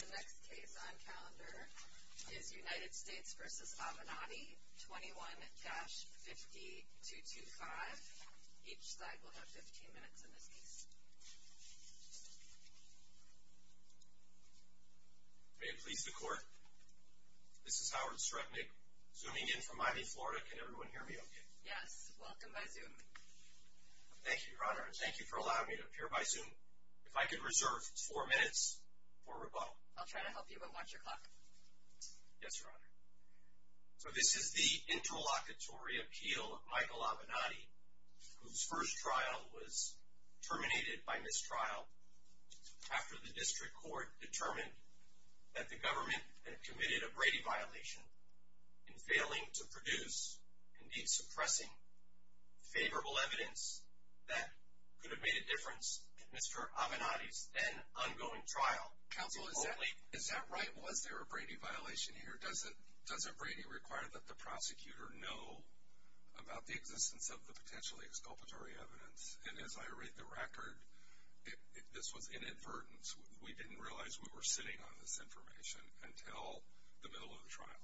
The next case on calendar is United States v. Avenatti, 21-5225. Each side will have 15 minutes in this case. May it please the Court, this is Howard Sretnick, Zooming in from Miami, Florida. Can everyone hear me okay? Yes, welcome by Zoom. Thank you, Your Honor, and thank you for allowing me to appear by Zoom. If I could reserve four minutes for rebuttal. I'll try to help you, but watch your clock. Yes, Your Honor. So this is the interlocutory appeal of Michael Avenatti, whose first trial was terminated by mistrial after the District Court determined that the government had committed a Brady violation in failing to produce, indeed suppressing, favorable evidence that could have made a difference in Mr. Avenatti's then-ongoing trial. Counsel, is that right? Was there a Brady violation here? Doesn't Brady require that the prosecutor know about the existence of the potentially exculpatory evidence? And as I read the record, this was inadvertent. We didn't realize we were sitting on this information until the middle of the trial.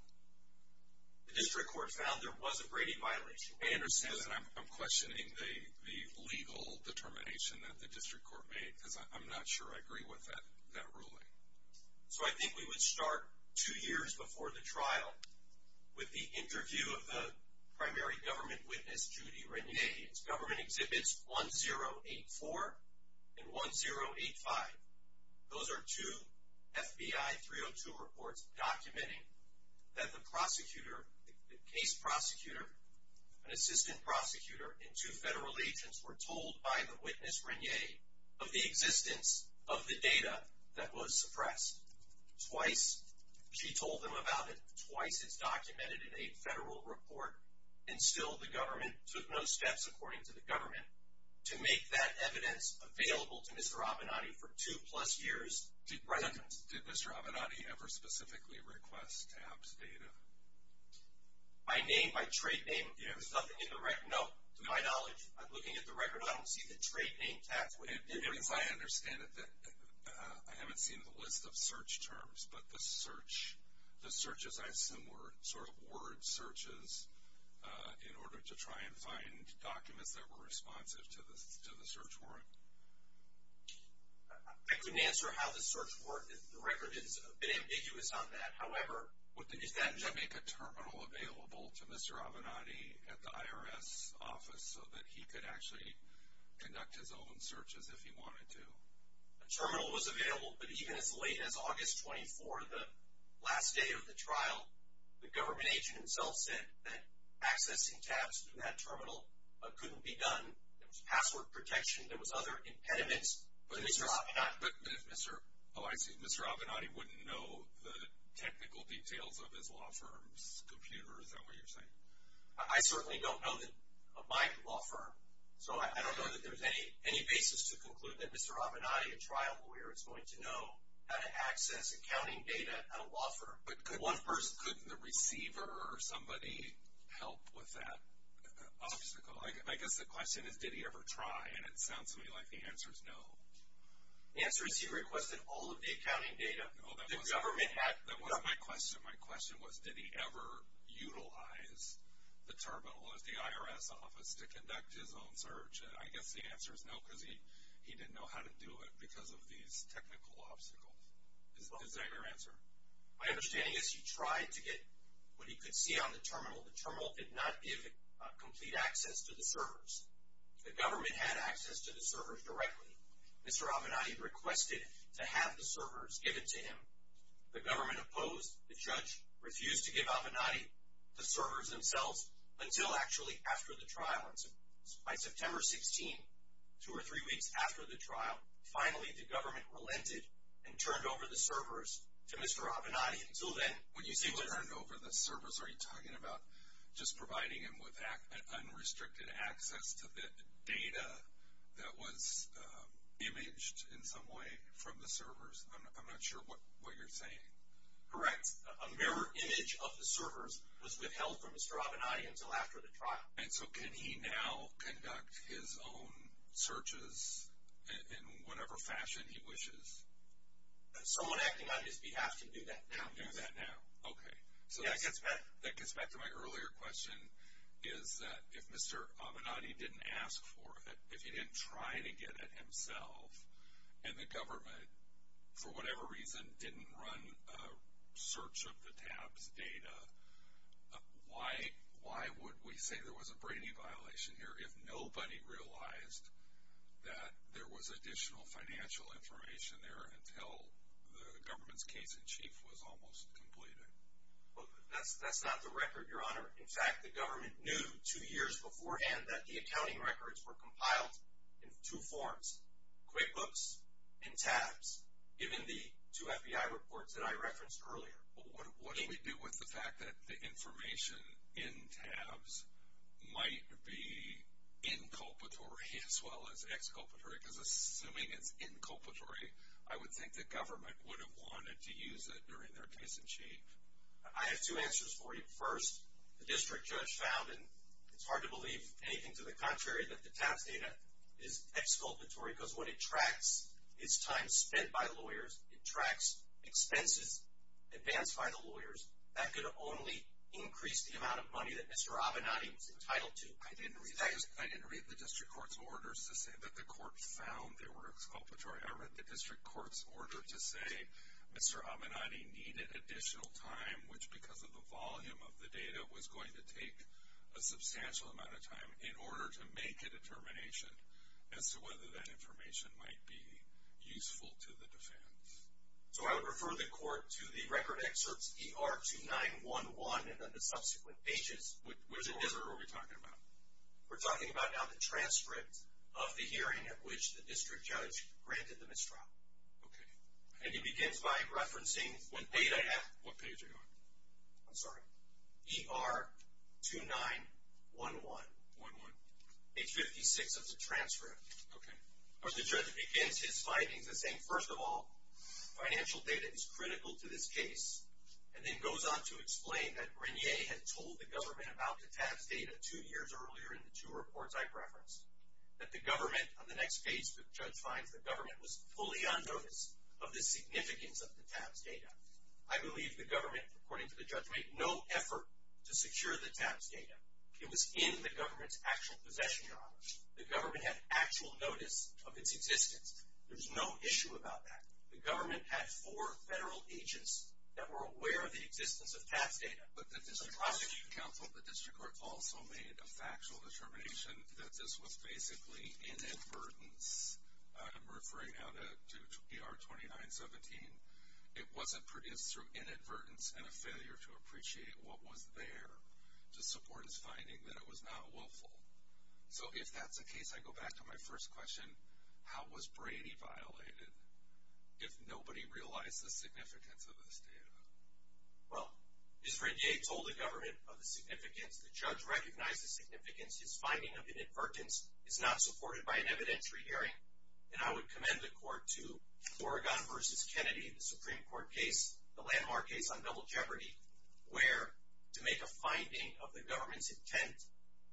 The District Court found there was a Brady violation. I understand that. I'm questioning the legal determination that the District Court made, because I'm not sure I agree with that ruling. So I think we would start two years before the trial with the interview of the primary government witness, Judy Regnier. It's Government Exhibits 1084 and 1085. Those are two FBI 302 reports documenting that the prosecutor, the case prosecutor, an assistant prosecutor, and two federal agents were told by the witness, Regnier, of the existence of the data that was suppressed. Twice she told them about it. Twice it's documented in a federal report. And still the government took no steps, according to the government, to make that evidence available to Mr. Avenatti for two-plus years. Did Mr. Avenatti ever specifically request to have this data? My name, my trade name, there's nothing in the record. No, to my knowledge, looking at the record, I don't see the trade name tax. As I understand it, I haven't seen the list of search terms, but the searches, I assume, were sort of word searches in order to try and find documents that were responsive to the search warrant. I couldn't answer how the search warrant, the record is a bit ambiguous on that. Is that to make a terminal available to Mr. Avenatti at the IRS office so that he could actually conduct his own searches if he wanted to? A terminal was available, but even as late as August 24, the last day of the trial, the government agent himself said that accessing tabs in that terminal couldn't be done. There was password protection. There was other impediments for Mr. Avenatti. Oh, I see. Mr. Avenatti wouldn't know the technical details of his law firm's computer. Is that what you're saying? I certainly don't know my law firm, so I don't know that there's any basis to conclude that Mr. Avenatti, a trial lawyer, is going to know how to access accounting data at a law firm. But couldn't the receiver or somebody help with that obstacle? I guess the question is did he ever try, and it sounds to me like the answer is no. The answer is he requested all of the accounting data. No, that wasn't my question. My question was did he ever utilize the terminal at the IRS office to conduct his own search? I guess the answer is no because he didn't know how to do it because of these technical obstacles. Is that your answer? My understanding is he tried to get what he could see on the terminal. The terminal did not give complete access to the servers. The government had access to the servers directly. Mr. Avenatti requested to have the servers given to him. The government opposed. The judge refused to give Avenatti the servers themselves until actually after the trial. By September 16, two or three weeks after the trial, finally the government relented and turned over the servers to Mr. Avenatti. When you say turned over the servers, are you talking about just providing him with unrestricted access to the data that was imaged in some way from the servers? I'm not sure what you're saying. Correct. A mirror image of the servers was withheld from Mr. Avenatti until after the trial. And so can he now conduct his own searches in whatever fashion he wishes? Someone acting on his behalf can do that now. Do that now. Okay. So that gets back to my earlier question is that if Mr. Avenatti didn't ask for it, if he didn't try to get it himself, and the government for whatever reason didn't run a search of the tabs data, why would we say there was a brainy violation here if nobody realized that there was additional financial information there until the government's case in chief was almost completed? That's not the record, Your Honor. In fact, the government knew two years beforehand that the accounting records were compiled in two forms, QuickBooks and tabs, given the two FBI reports that I referenced earlier. What do we do with the fact that the information in tabs might be inculpatory as well as exculpatory? Because assuming it's inculpatory, I would think the government would have wanted to use it during their case in chief. I have two answers for you. First, the district judge found, and it's hard to believe anything to the contrary, that the tabs data is exculpatory because what it tracks is time spent by lawyers. It tracks expenses advanced by the lawyers. That could only increase the amount of money that Mr. Avenatti was entitled to. I didn't read the district court's orders to say that the court found they were exculpatory. I read the district court's order to say Mr. Avenatti needed additional time, which because of the volume of the data was going to take a substantial amount of time, in order to make a determination as to whether that information might be useful to the defense. So I would refer the court to the record excerpts ER-2911 and then the subsequent pages. Which excerpt are we talking about? We're talking about now the transcript of the hearing at which the district judge granted the mistrial. Okay. And he begins by referencing one page I have. What page are you on? I'm sorry. ER-2911. Page 56 of the transcript. Okay. Where the judge begins his findings as saying, first of all, financial data is critical to this case. And then goes on to explain that Regnier had told the government about the tabs data two years earlier in the two reports I referenced. That the government, on the next page the judge finds, the government was fully unnoticed of the significance of the tabs data. I believe the government, according to the judge, made no effort to secure the tabs data. It was in the government's actual possession, Your Honor. The government had actual notice of its existence. There was no issue about that. The government had four federal agents that were aware of the existence of tabs data. But the district court also made a factual determination that this was basically inadvertence. I'm referring now to ER-2917. It wasn't produced through inadvertence and a failure to appreciate what was there to support his finding that it was not willful. So if that's the case, I go back to my first question. How was Brady violated if nobody realized the significance of this data? Well, as Regnier told the government of the significance, the judge recognized the significance. His finding of inadvertence is not supported by an evidentiary hearing. And I would commend the court to Oregon v. Kennedy, the Supreme Court case, the landmark case on double jeopardy, where to make a finding of the government's intent,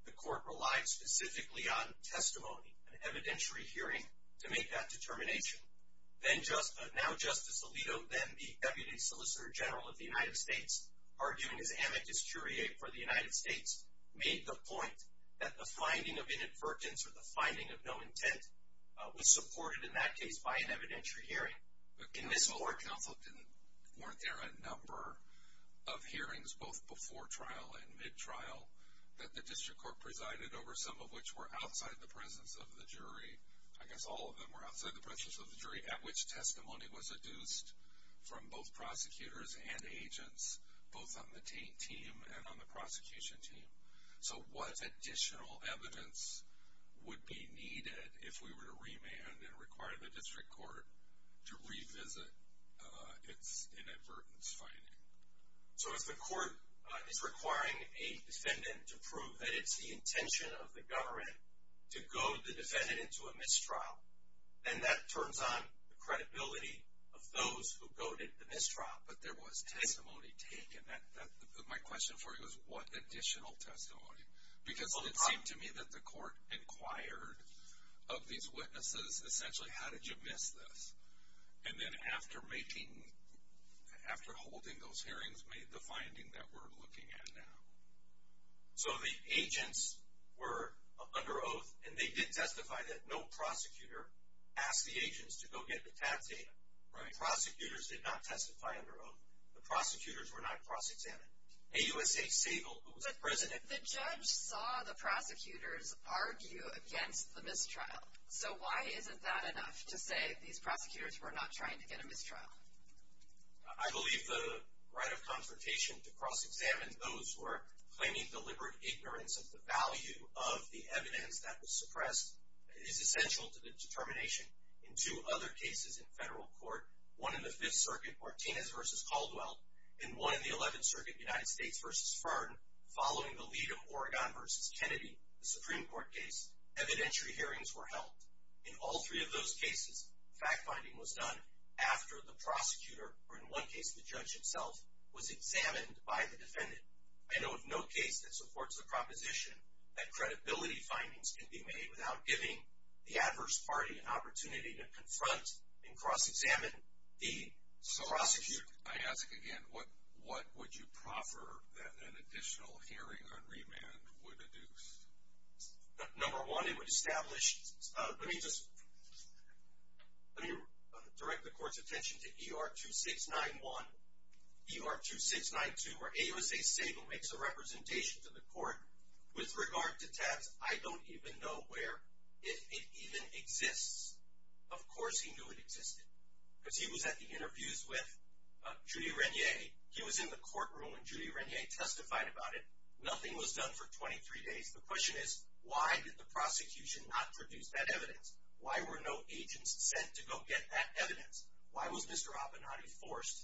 the court relied specifically on testimony, an evidentiary hearing to make that determination. Now Justice Alito, then the Deputy Solicitor General of the United States, arguing his amicus curiae for the United States, made the point that the finding of inadvertence or the finding of no intent was supported in that case by an evidentiary hearing. In this court, weren't there a number of hearings, both before trial and mid-trial, that the district court presided over, some of which were outside the presence of the jury? I guess all of them were outside the presence of the jury, at which testimony was adduced from both prosecutors and agents, both on the team and on the prosecution team. So what additional evidence would be needed if we were to remand and require the district court to revisit its inadvertence finding? So if the court is requiring a defendant to prove that it's the intention of the government to goad the defendant into a mistrial, then that turns on the credibility of those who goaded the mistrial. But there was testimony taken. My question for you is, what additional testimony? Because it seemed to me that the court inquired of these witnesses, essentially, how did you miss this? And then after holding those hearings, made the finding that we're looking at now. So the agents were under oath, and they did testify that no prosecutor asked the agents to go get the tab data. The prosecutors did not testify under oath. The prosecutors were not cross-examined. AUSA Sable, who was the president… But the judge saw the prosecutors argue against the mistrial. So why isn't that enough to say these prosecutors were not trying to get a mistrial? I believe the right of confrontation to cross-examine those who are claiming deliberate ignorance of the value of the evidence that was suppressed is essential to the determination. In two other cases in federal court, one in the Fifth Circuit, Martinez v. Caldwell, and one in the Eleventh Circuit, United States v. Fern, following the lead of Oregon v. Kennedy, the Supreme Court case, evidentiary hearings were held. In all three of those cases, fact-finding was done after the prosecutor, or in one case the judge himself, was examined by the defendant. I know of no case that supports the proposition that credibility findings can be made without giving the adverse party an opportunity to confront and cross-examine the prosecutor. So, I ask again, what would you proffer that an additional hearing on remand would induce? Number one, it would establish… Let me just… Let me direct the court's attention to E.R. 2691, E.R. 2692, where A.U.S.A. Sable makes a representation to the court with regard to tax. I don't even know where it even exists. Of course he knew it existed, because he was at the interviews with Judy Renier. He was in the courtroom when Judy Renier testified about it. Nothing was done for 23 days. The question is, why did the prosecution not produce that evidence? Why were no agents sent to go get that evidence? Why was Mr. Abinanti forced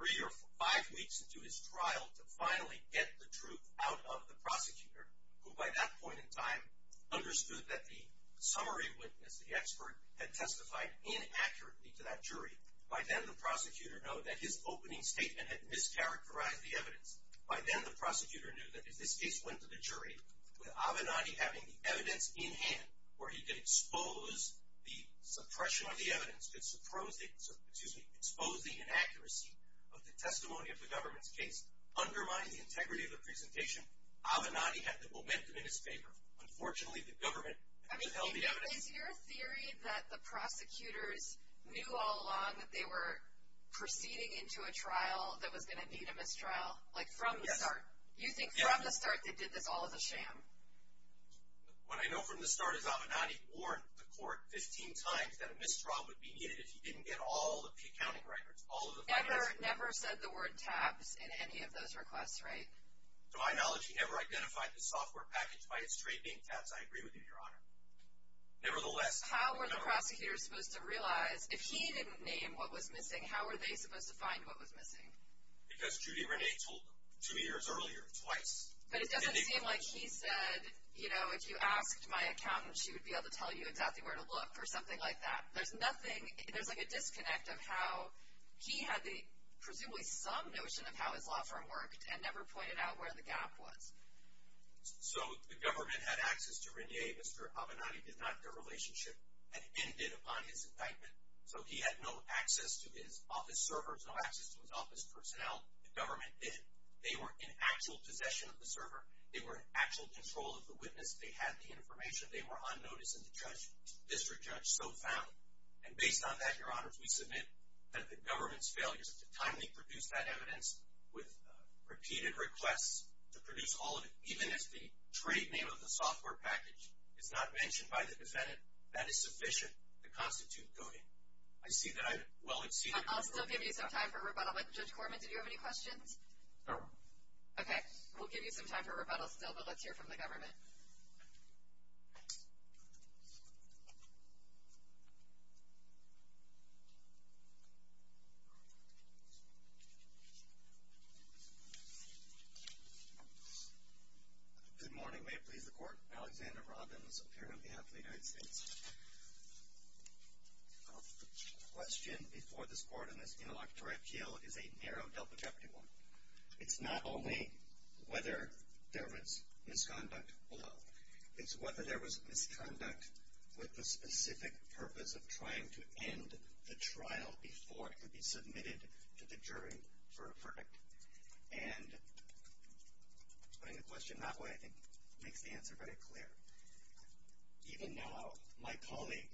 three or five weeks into his trial to finally get the truth out of the prosecutor, who by that point in time understood that the summary witness, the expert, had testified inaccurately to that jury? By then, the prosecutor knowed that his opening statement had mischaracterized the evidence. By then, the prosecutor knew that if this case went to the jury, with Abinanti having the evidence in hand where he could expose the suppression of the evidence, could expose the inaccuracy of the testimony of the government's case, undermining the integrity of the presentation, Abinanti had the momentum in his favor. Unfortunately, the government held the evidence… So is your theory that the prosecutors knew all along that they were proceeding into a trial that was going to need a mistrial, like from the start? Yes. You think from the start they did this all as a sham? What I know from the start is Abinanti warned the court 15 times that a mistrial would be needed if he didn't get all of the accounting records, all of the files. Egger never said the word tabs in any of those requests, right? To my knowledge, he never identified the software package by its trade name tabs. I agree with you, Your Honor. Nevertheless… How were the prosecutors supposed to realize if he didn't name what was missing, how were they supposed to find what was missing? Because Judy Renee told them two years earlier, twice. But it doesn't seem like he said, you know, if you asked my accountant, she would be able to tell you exactly where to look or something like that. There's nothing, there's like a disconnect of how he had presumably some notion of how his law firm worked and never pointed out where the gap was. So the government had access to Renee. Mr. Abinanti did not. Their relationship had ended upon his indictment. So he had no access to his office servers, no access to his office personnel. The government didn't. They were in actual possession of the server. They were in actual control of the witness. They had the information. They were on notice, and the district judge so found. And based on that, Your Honors, we submit that the government's failures to timely produce that evidence with repeated requests to produce all of it, even if the trade name of the software package is not mentioned by the defendant, that is sufficient to constitute coding. I see that I've well exceeded. I'll still give you some time for rebuttal. Judge Corman, did you have any questions? No. Okay. We'll give you some time for rebuttal still, but let's hear from the government. Mr. Abinanti. Good morning. May it please the Court. Alexander Robbins, appearing on behalf of the United States. The question before this Court on this interlocutory appeal is a narrow double jeopardy one. It's not only whether there was misconduct below. It's whether there was misconduct with the specific purpose of trying to end the trial before it could be submitted to the jury for a verdict. And putting the question that way, I think, makes the answer very clear. Even now, my colleague,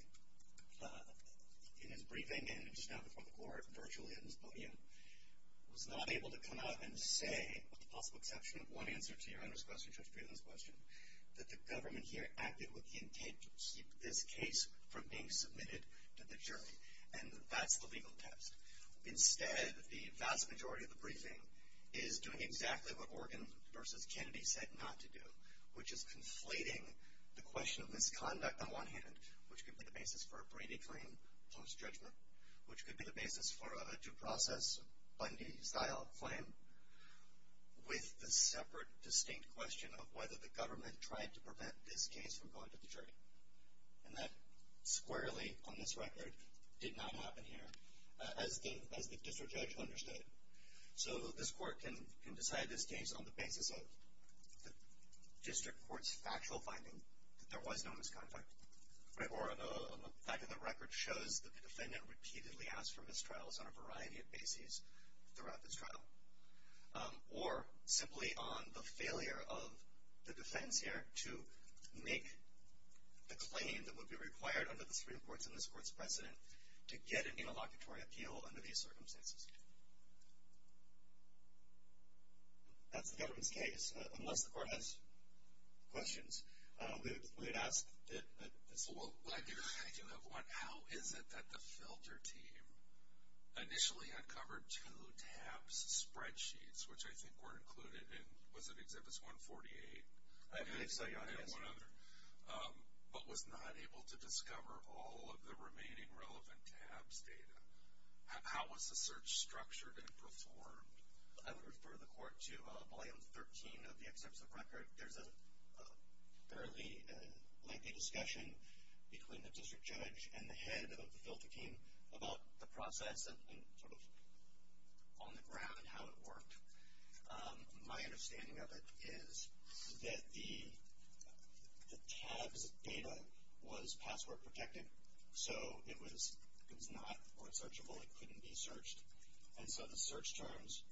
in his briefing and just now before the Court, virtually at this podium, was not able to come out and say, with the possible exception of one answer to Your Honor's question, Judge Breeden's question, that the government here acted with the intent to keep this case from being submitted to the jury. And that's the legal test. Instead, the vast majority of the briefing is doing exactly what Oregon v. Kennedy said not to do, which is conflating the question of misconduct on one hand, which could be the basis for a Brady claim post-judgment, which could be the basis for a due process Bundy-style claim, with the separate, distinct question of whether the government tried to prevent this case from going to the jury. And that squarely, on this record, did not happen here, as the district judge understood it. So this Court can decide this case on the basis of the district court's factual finding that there was no misconduct. Or a fact of the record shows that the defendant repeatedly asked for mistrials on a variety of bases throughout this trial. Or simply on the failure of the defense here to make the claim that would be required under the Supreme Court's and this Court's precedent to get an interlocutory appeal under these circumstances. That's the government's case. Unless the Court has questions, we would ask that this Court. Well, I do have one. How is it that the filter team initially uncovered two TABS spreadsheets, which I think were included in, was it Exhibit 148? I believe so, yeah. And one other. But was not able to discover all of the remaining relevant TABS data. How was the search structured and performed? I would refer the Court to Volume 13 of the Excerpts of Record. There's a fairly lengthy discussion between the district judge and the head of the filter team about the process and sort of on the ground how it worked. My understanding of it is that the TABS data was password protected, so it was not researchable. It couldn't be searched. And so the search terms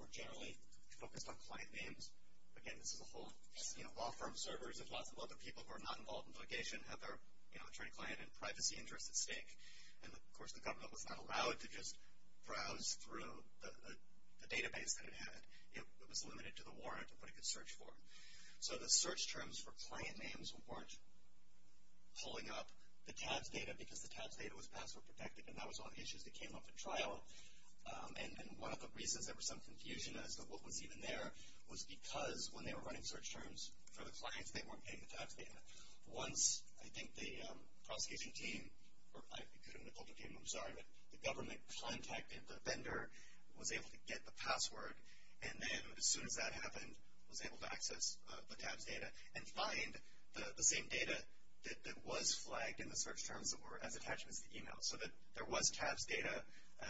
were generally focused on client names. Again, this is a whole law firm servers. There's lots of other people who are not involved in litigation, have their attorney-client and privacy interests at stake. And, of course, the government was not allowed to just browse through the database that it had. It was limited to the warrant and what it could search for. So the search terms for client names weren't pulling up the TABS data because the TABS data was password protected. And that was one of the issues that came up at trial. And one of the reasons there was some confusion as to what was even there was because when they were running search terms for the clients, they weren't getting the TABS data. Once I think the prosecution team, or I couldn't recall the team, I'm sorry, but the government contacted the vendor, was able to get the password, and then as soon as that happened, was able to access the TABS data and find the same data that was flagged in the search terms that were as attachments to email so that there was TABS data,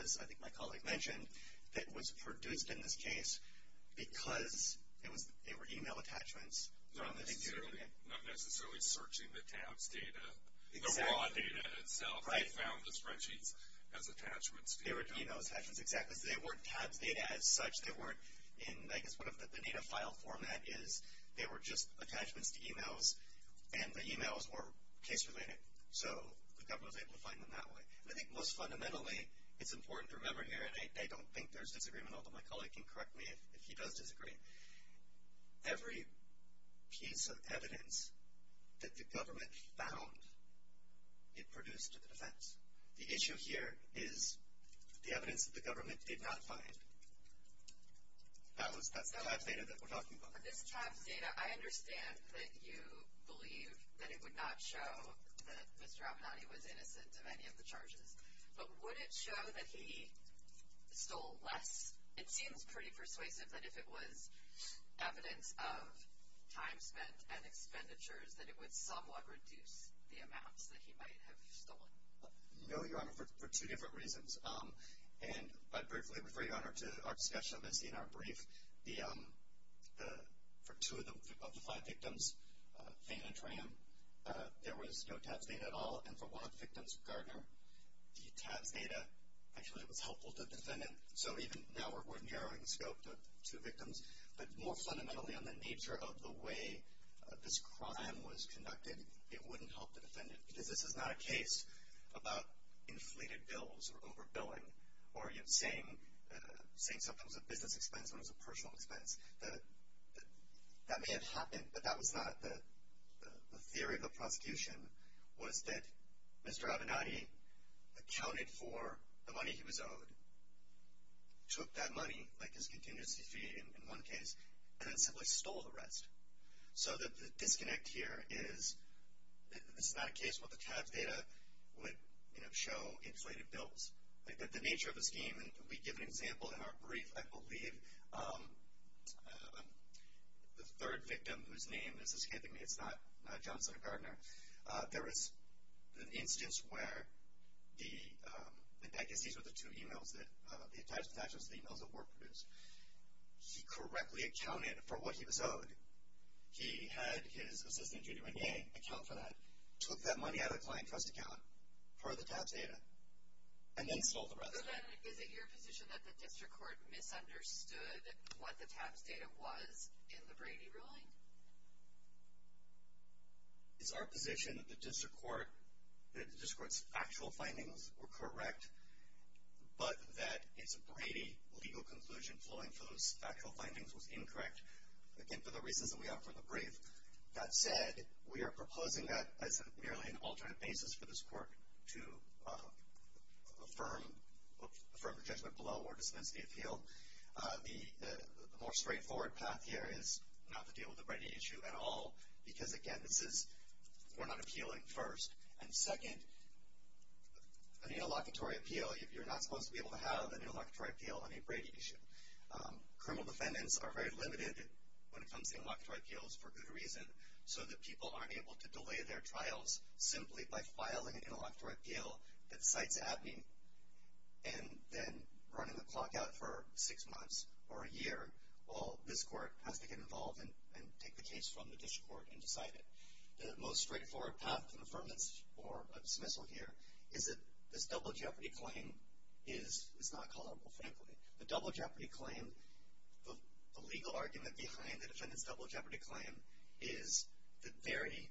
as I think my colleague mentioned, that was produced in this case because they were email attachments. Not necessarily searching the TABS data, the raw data itself. They found the spreadsheets as attachments. They were email attachments, exactly. So they weren't TABS data as such. They weren't in, I guess, one of the data file format is they were just attachments to emails, and the emails were case-related. So the government was able to find them that way. And I think most fundamentally, it's important to remember here, and I don't think there's disagreement, although my colleague can correct me if he does disagree, every piece of evidence that the government found, it produced a defense. The issue here is the evidence that the government did not find. That's the TABS data that we're talking about. For this TABS data, I understand that you believe that it would not show that Mr. Abinanti was innocent of any of the charges. But would it show that he stole less? It seems pretty persuasive that if it was evidence of time spent and expenditures, that it would somewhat reduce the amounts that he might have stolen. No, Your Honor, for two different reasons. And I briefly refer, Your Honor, to our discussion of this in our brief. For two of the five victims, Fain and Tram, there was no TABS data at all. And for one of the victims, Gardner, the TABS data actually was helpful to the defendant. So even now we're narrowing the scope to two victims, but more fundamentally on the nature of the way this crime was conducted, it wouldn't help the defendant. Because this is not a case about inflated bills or overbilling or, you know, saying something was a business expense when it was a personal expense. That may have happened, but that was not the theory of the prosecution, was that Mr. Abinanti accounted for the money he was owed, took that money, like his contingency fee in one case, and then simply stole the rest. So the disconnect here is this is not a case where the TABS data would, you know, show inflated bills. The nature of the scheme, and we give an example in our brief, I believe, the third victim, whose name is escaping me, it's not Johnson or Gardner. There was an instance where the, I guess these were the two emails that, the attachments to the emails that were produced. He correctly accounted for what he was owed. He had his assistant, Judy Renier, account for that, took that money out of the client trust account for the TABS data, and then stole the rest. So then is it your position that the district court misunderstood what the TABS data was in the Brady ruling? It's our position that the district court's actual findings were correct, but that it's a Brady legal conclusion flowing from those actual findings was incorrect. Again, for the reasons that we have from the brief. That said, we are proposing that as merely an alternate basis for this court to affirm, affirm the judgment below or dispense the appeal. The more straightforward path here is not to deal with the Brady issue at all, because again, this is, we're not appealing first. And second, an interlocutory appeal, if you're not supposed to be able to have an interlocutory appeal on a Brady issue. Criminal defendants are very limited when it comes to interlocutory appeals for good reason, so that people aren't able to delay their trials simply by filing an interlocutory appeal at Cites Abney and then running the clock out for six months or a year, while this court has to get involved and take the case from the district court and decide it. The most straightforward path to an affirmance or a dismissal here is that this double jeopardy claim is not culpable, frankly. The double jeopardy claim, the legal argument behind the defendant's double jeopardy claim is the very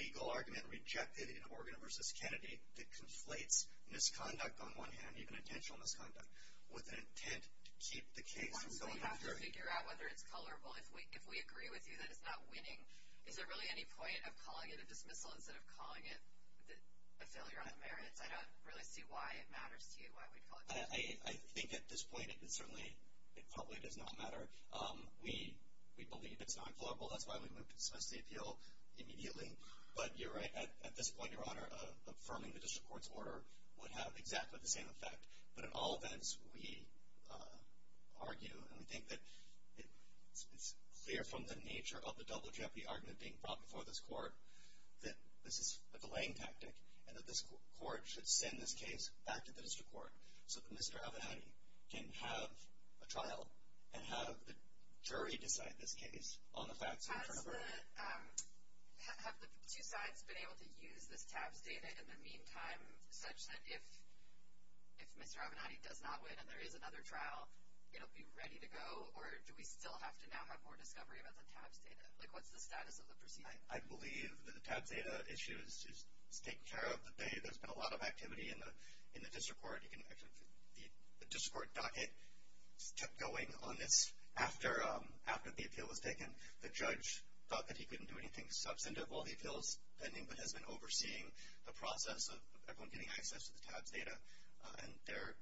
legal argument rejected in Morgan v. Kennedy that conflates misconduct on one hand, even intentional misconduct, with an intent to keep the case from going to court. So you have to figure out whether it's culpable. If we agree with you that it's not winning, is there really any point of calling it a dismissal instead of calling it a failure on the merits? I don't really see why it matters to you, why we'd call it a dismissal. I think at this point it certainly probably does not matter. We believe it's non-culpable. That's why we wouldn't dismiss the appeal immediately. But you're right, at this point, Your Honor, affirming the district court's order would have exactly the same effect. But in all events, we argue and we think that it's clear from the nature of the double jeopardy argument being brought before this court that this is a delaying tactic and that this court should send this case back to the district court so that Mr. Avenatti can have a trial and have the jury decide this case on the facts in front of it. Your Honor, have the two sides been able to use this TABS data in the meantime such that if Mr. Avenatti does not win and there is another trial, it'll be ready to go? Or do we still have to now have more discovery about the TABS data? Like, what's the status of the proceeding? I believe that the TABS data issue is taken care of. There's been a lot of activity in the district court. The district court docket kept going on this after the appeal was taken. The judge thought that he couldn't do anything substantive while he appeals pending but has been overseeing the process of everyone getting access to the TABS data, and there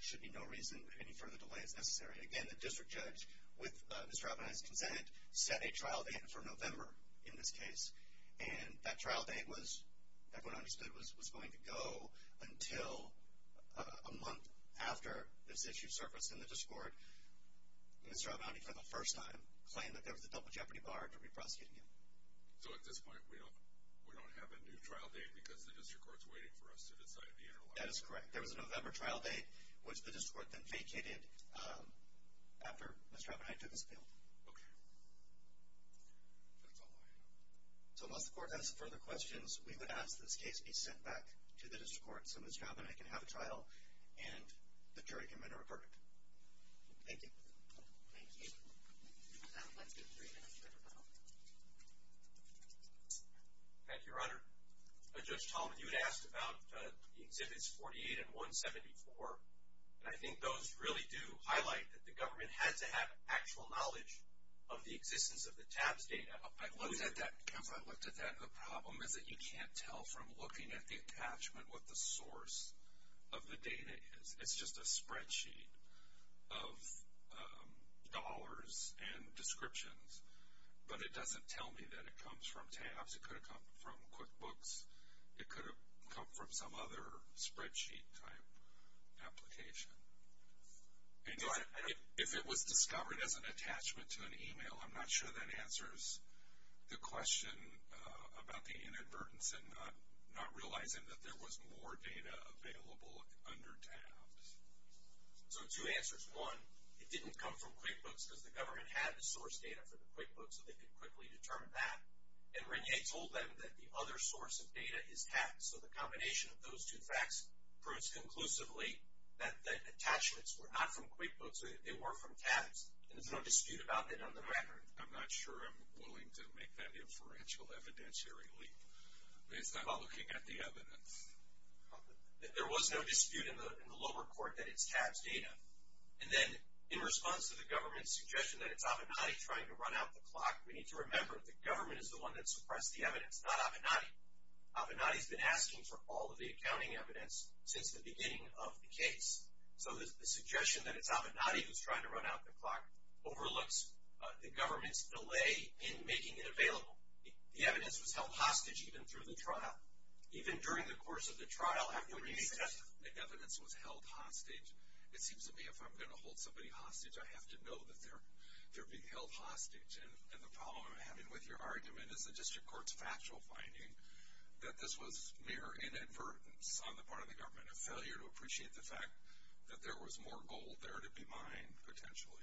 should be no reason that any further delay is necessary. Again, the district judge, with Mr. Avenatti's consent, set a trial date for November in this case, and that trial date, everyone understood, was going to go until a month after this issue surfaced in the district court. Mr. Avenatti, for the first time, claimed that there was a double jeopardy bar for re-prosecuting him. So at this point, we don't have a new trial date because the district court is waiting for us to decide the interlock? That is correct. There was a November trial date, which the district court then vacated after Mr. Avenatti took his appeal. Okay. That's all I know. So unless the court has further questions, we would ask this case be sent back to the district court once someone's found that I can have a trial, and the jury can then report it. Thank you. Thank you. Let's get three minutes to go. Thank you, Your Honor. Judge Talmadge, you had asked about Exhibits 48 and 174, and I think those really do highlight that the government had to have actual knowledge of the existence of the TABS data. I've looked at that, Counselor. I've looked at that. The problem is that you can't tell from looking at the attachment what the source of the data is. It's just a spreadsheet of dollars and descriptions, but it doesn't tell me that it comes from TABS. It could have come from QuickBooks. It could have come from some other spreadsheet-type application. If it was discovered as an attachment to an email, I'm not sure that answers the question. About the inadvertence and not realizing that there was more data available under TABS. So two answers. One, it didn't come from QuickBooks because the government had the source data for the QuickBooks, so they could quickly determine that. And Rene told them that the other source of data is TABS, so the combination of those two facts proves conclusively that attachments were not from QuickBooks. They were from TABS, and there's no dispute about that on the record. I'm not sure I'm willing to make that inferential evidentiary leap based on looking at the evidence. There was no dispute in the lower court that it's TABS data. And then in response to the government's suggestion that it's Avenatti trying to run out the clock, we need to remember the government is the one that suppressed the evidence, not Avenatti. Avenatti's been asking for all of the accounting evidence since the beginning of the case. So the suggestion that it's Avenatti who's trying to run out the clock overlooks the government's delay in making it available. The evidence was held hostage even through the trial. Even during the course of the trial, after Rene testified. The evidence was held hostage. It seems to me if I'm going to hold somebody hostage, I have to know that they're being held hostage. And the problem I'm having with your argument is the district court's factual finding that this was mere inadvertence on the part of the government, a failure to appreciate the fact that there was more gold there to be mined, potentially.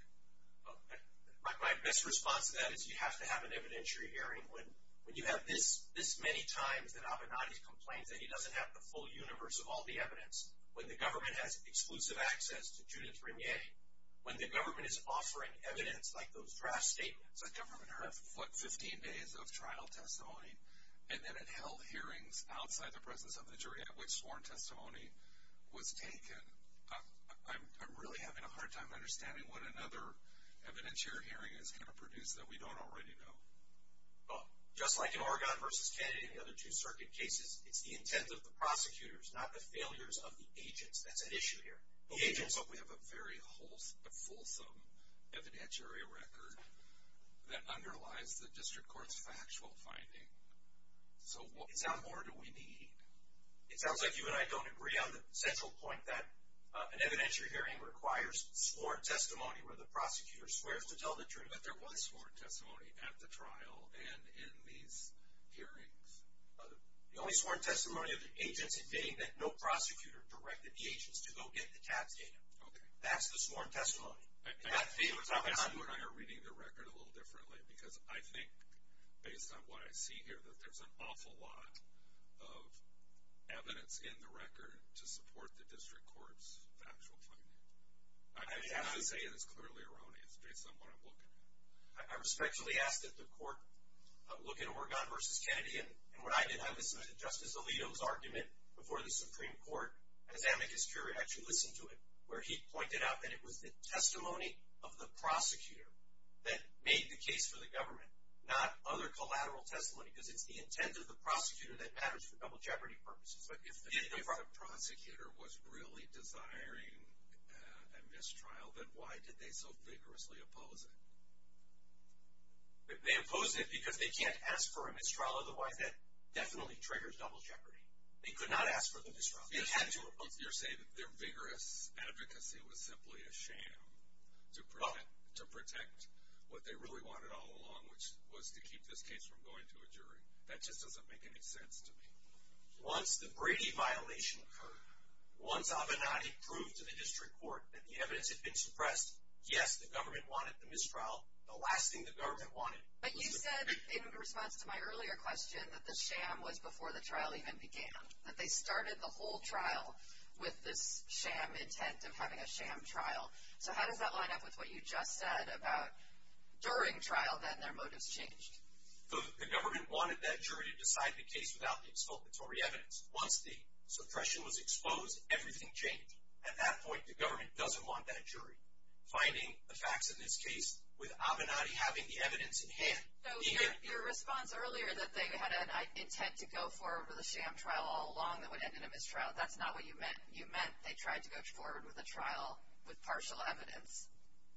My best response to that is you have to have an evidentiary hearing. When you have this many times that Avenatti complains and he doesn't have the full universe of all the evidence, when the government has exclusive access to Judith Rimier, when the government is offering evidence like those draft statements, when the government has, what, 15 days of trial testimony, and then it held hearings outside the presence of the jury at which sworn testimony was taken, I'm really having a hard time understanding what another evidentiary hearing is going to produce that we don't already know. Well, just like in Oregon versus Kennedy and the other two circuit cases, it's the intent of the prosecutors, not the failures of the agents. That's at issue here. The agents hope we have a very wholesome, a fulsome evidentiary record that underlies the district court's factual finding. So what more do we need? It sounds like you and I don't agree on the central point that an evidentiary hearing requires sworn testimony where the prosecutor swears to tell the jury that there was sworn testimony at the trial and in these hearings. The only sworn testimony are the agents admitting that no prosecutor directed the agents to go get the tax data. Okay. That's the sworn testimony. And that's the data we're talking about. I assume you and I are reading the record a little differently because I think, based on what I see here, that there's an awful lot of evidence in the record to support the district court's factual finding. I'm not saying it's clearly erroneous based on what I'm looking at. I respectfully ask that the court look at Oregon v. Kennedy. And what I did have is Justice Alito's argument before the Supreme Court, as Amicus Curia actually listened to it, where he pointed out that it was the testimony of the prosecutor that made the case for the government, not other collateral testimony because it's the intent of the prosecutor that matters for double jeopardy purposes. But if the prosecutor was really desiring a mistrial, then why did they so vigorously oppose it? They opposed it because they can't ask for a mistrial, otherwise that definitely triggers double jeopardy. They could not ask for the mistrial. They had to oppose it. You're saying that their vigorous advocacy was simply a sham to protect what they really wanted all along, which was to keep this case from going to a jury. That just doesn't make any sense to me. Once the Brady violation occurred, once Avenatti proved to the district court that the evidence had been suppressed, yes, the government wanted the mistrial. The last thing the government wanted was the jury. But you said in response to my earlier question that the sham was before the trial even began, that they started the whole trial with this sham intent of having a sham trial. So how does that line up with what you just said about during trial, then their motives changed? The government wanted that jury to decide the case without the expulsory evidence. Once the suppression was exposed, everything changed. At that point, the government doesn't want that jury. Finding the facts in this case with Avenatti having the evidence in hand. So your response earlier that they had an intent to go forward with a sham trial all along that would end in a mistrial, that's not what you meant. You meant they tried to go forward with a trial with partial evidence.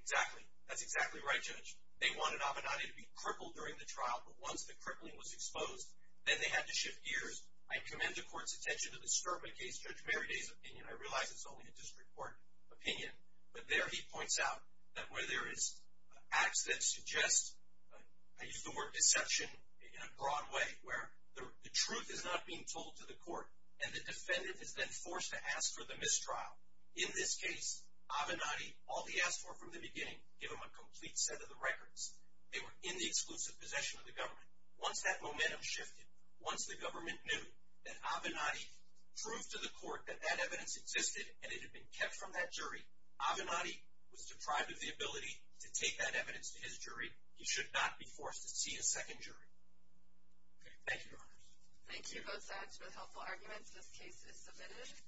Exactly. That's exactly right, Judge. They wanted Avenatti to be crippled during the trial. But once the crippling was exposed, then they had to shift gears. I commend the court's attention to the Sterling case, Judge Merriday's opinion. I realize it's only a district court opinion. But there he points out that where there is acts that suggest, I use the word deception in a broad way, where the truth is not being told to the court and the defendant is then forced to ask for the mistrial. In this case, Avenatti, all he asked for from the beginning, give him a complete set of the records. They were in the exclusive possession of the government. Once that momentum shifted, once the government knew that Avenatti proved to the court that that evidence existed and it had been kept from that jury, Avenatti was deprived of the ability to take that evidence to his jury. He should not be forced to see a second jury. Thank you, Your Honors. Thank you both sides for the helpful arguments. This case is submitted.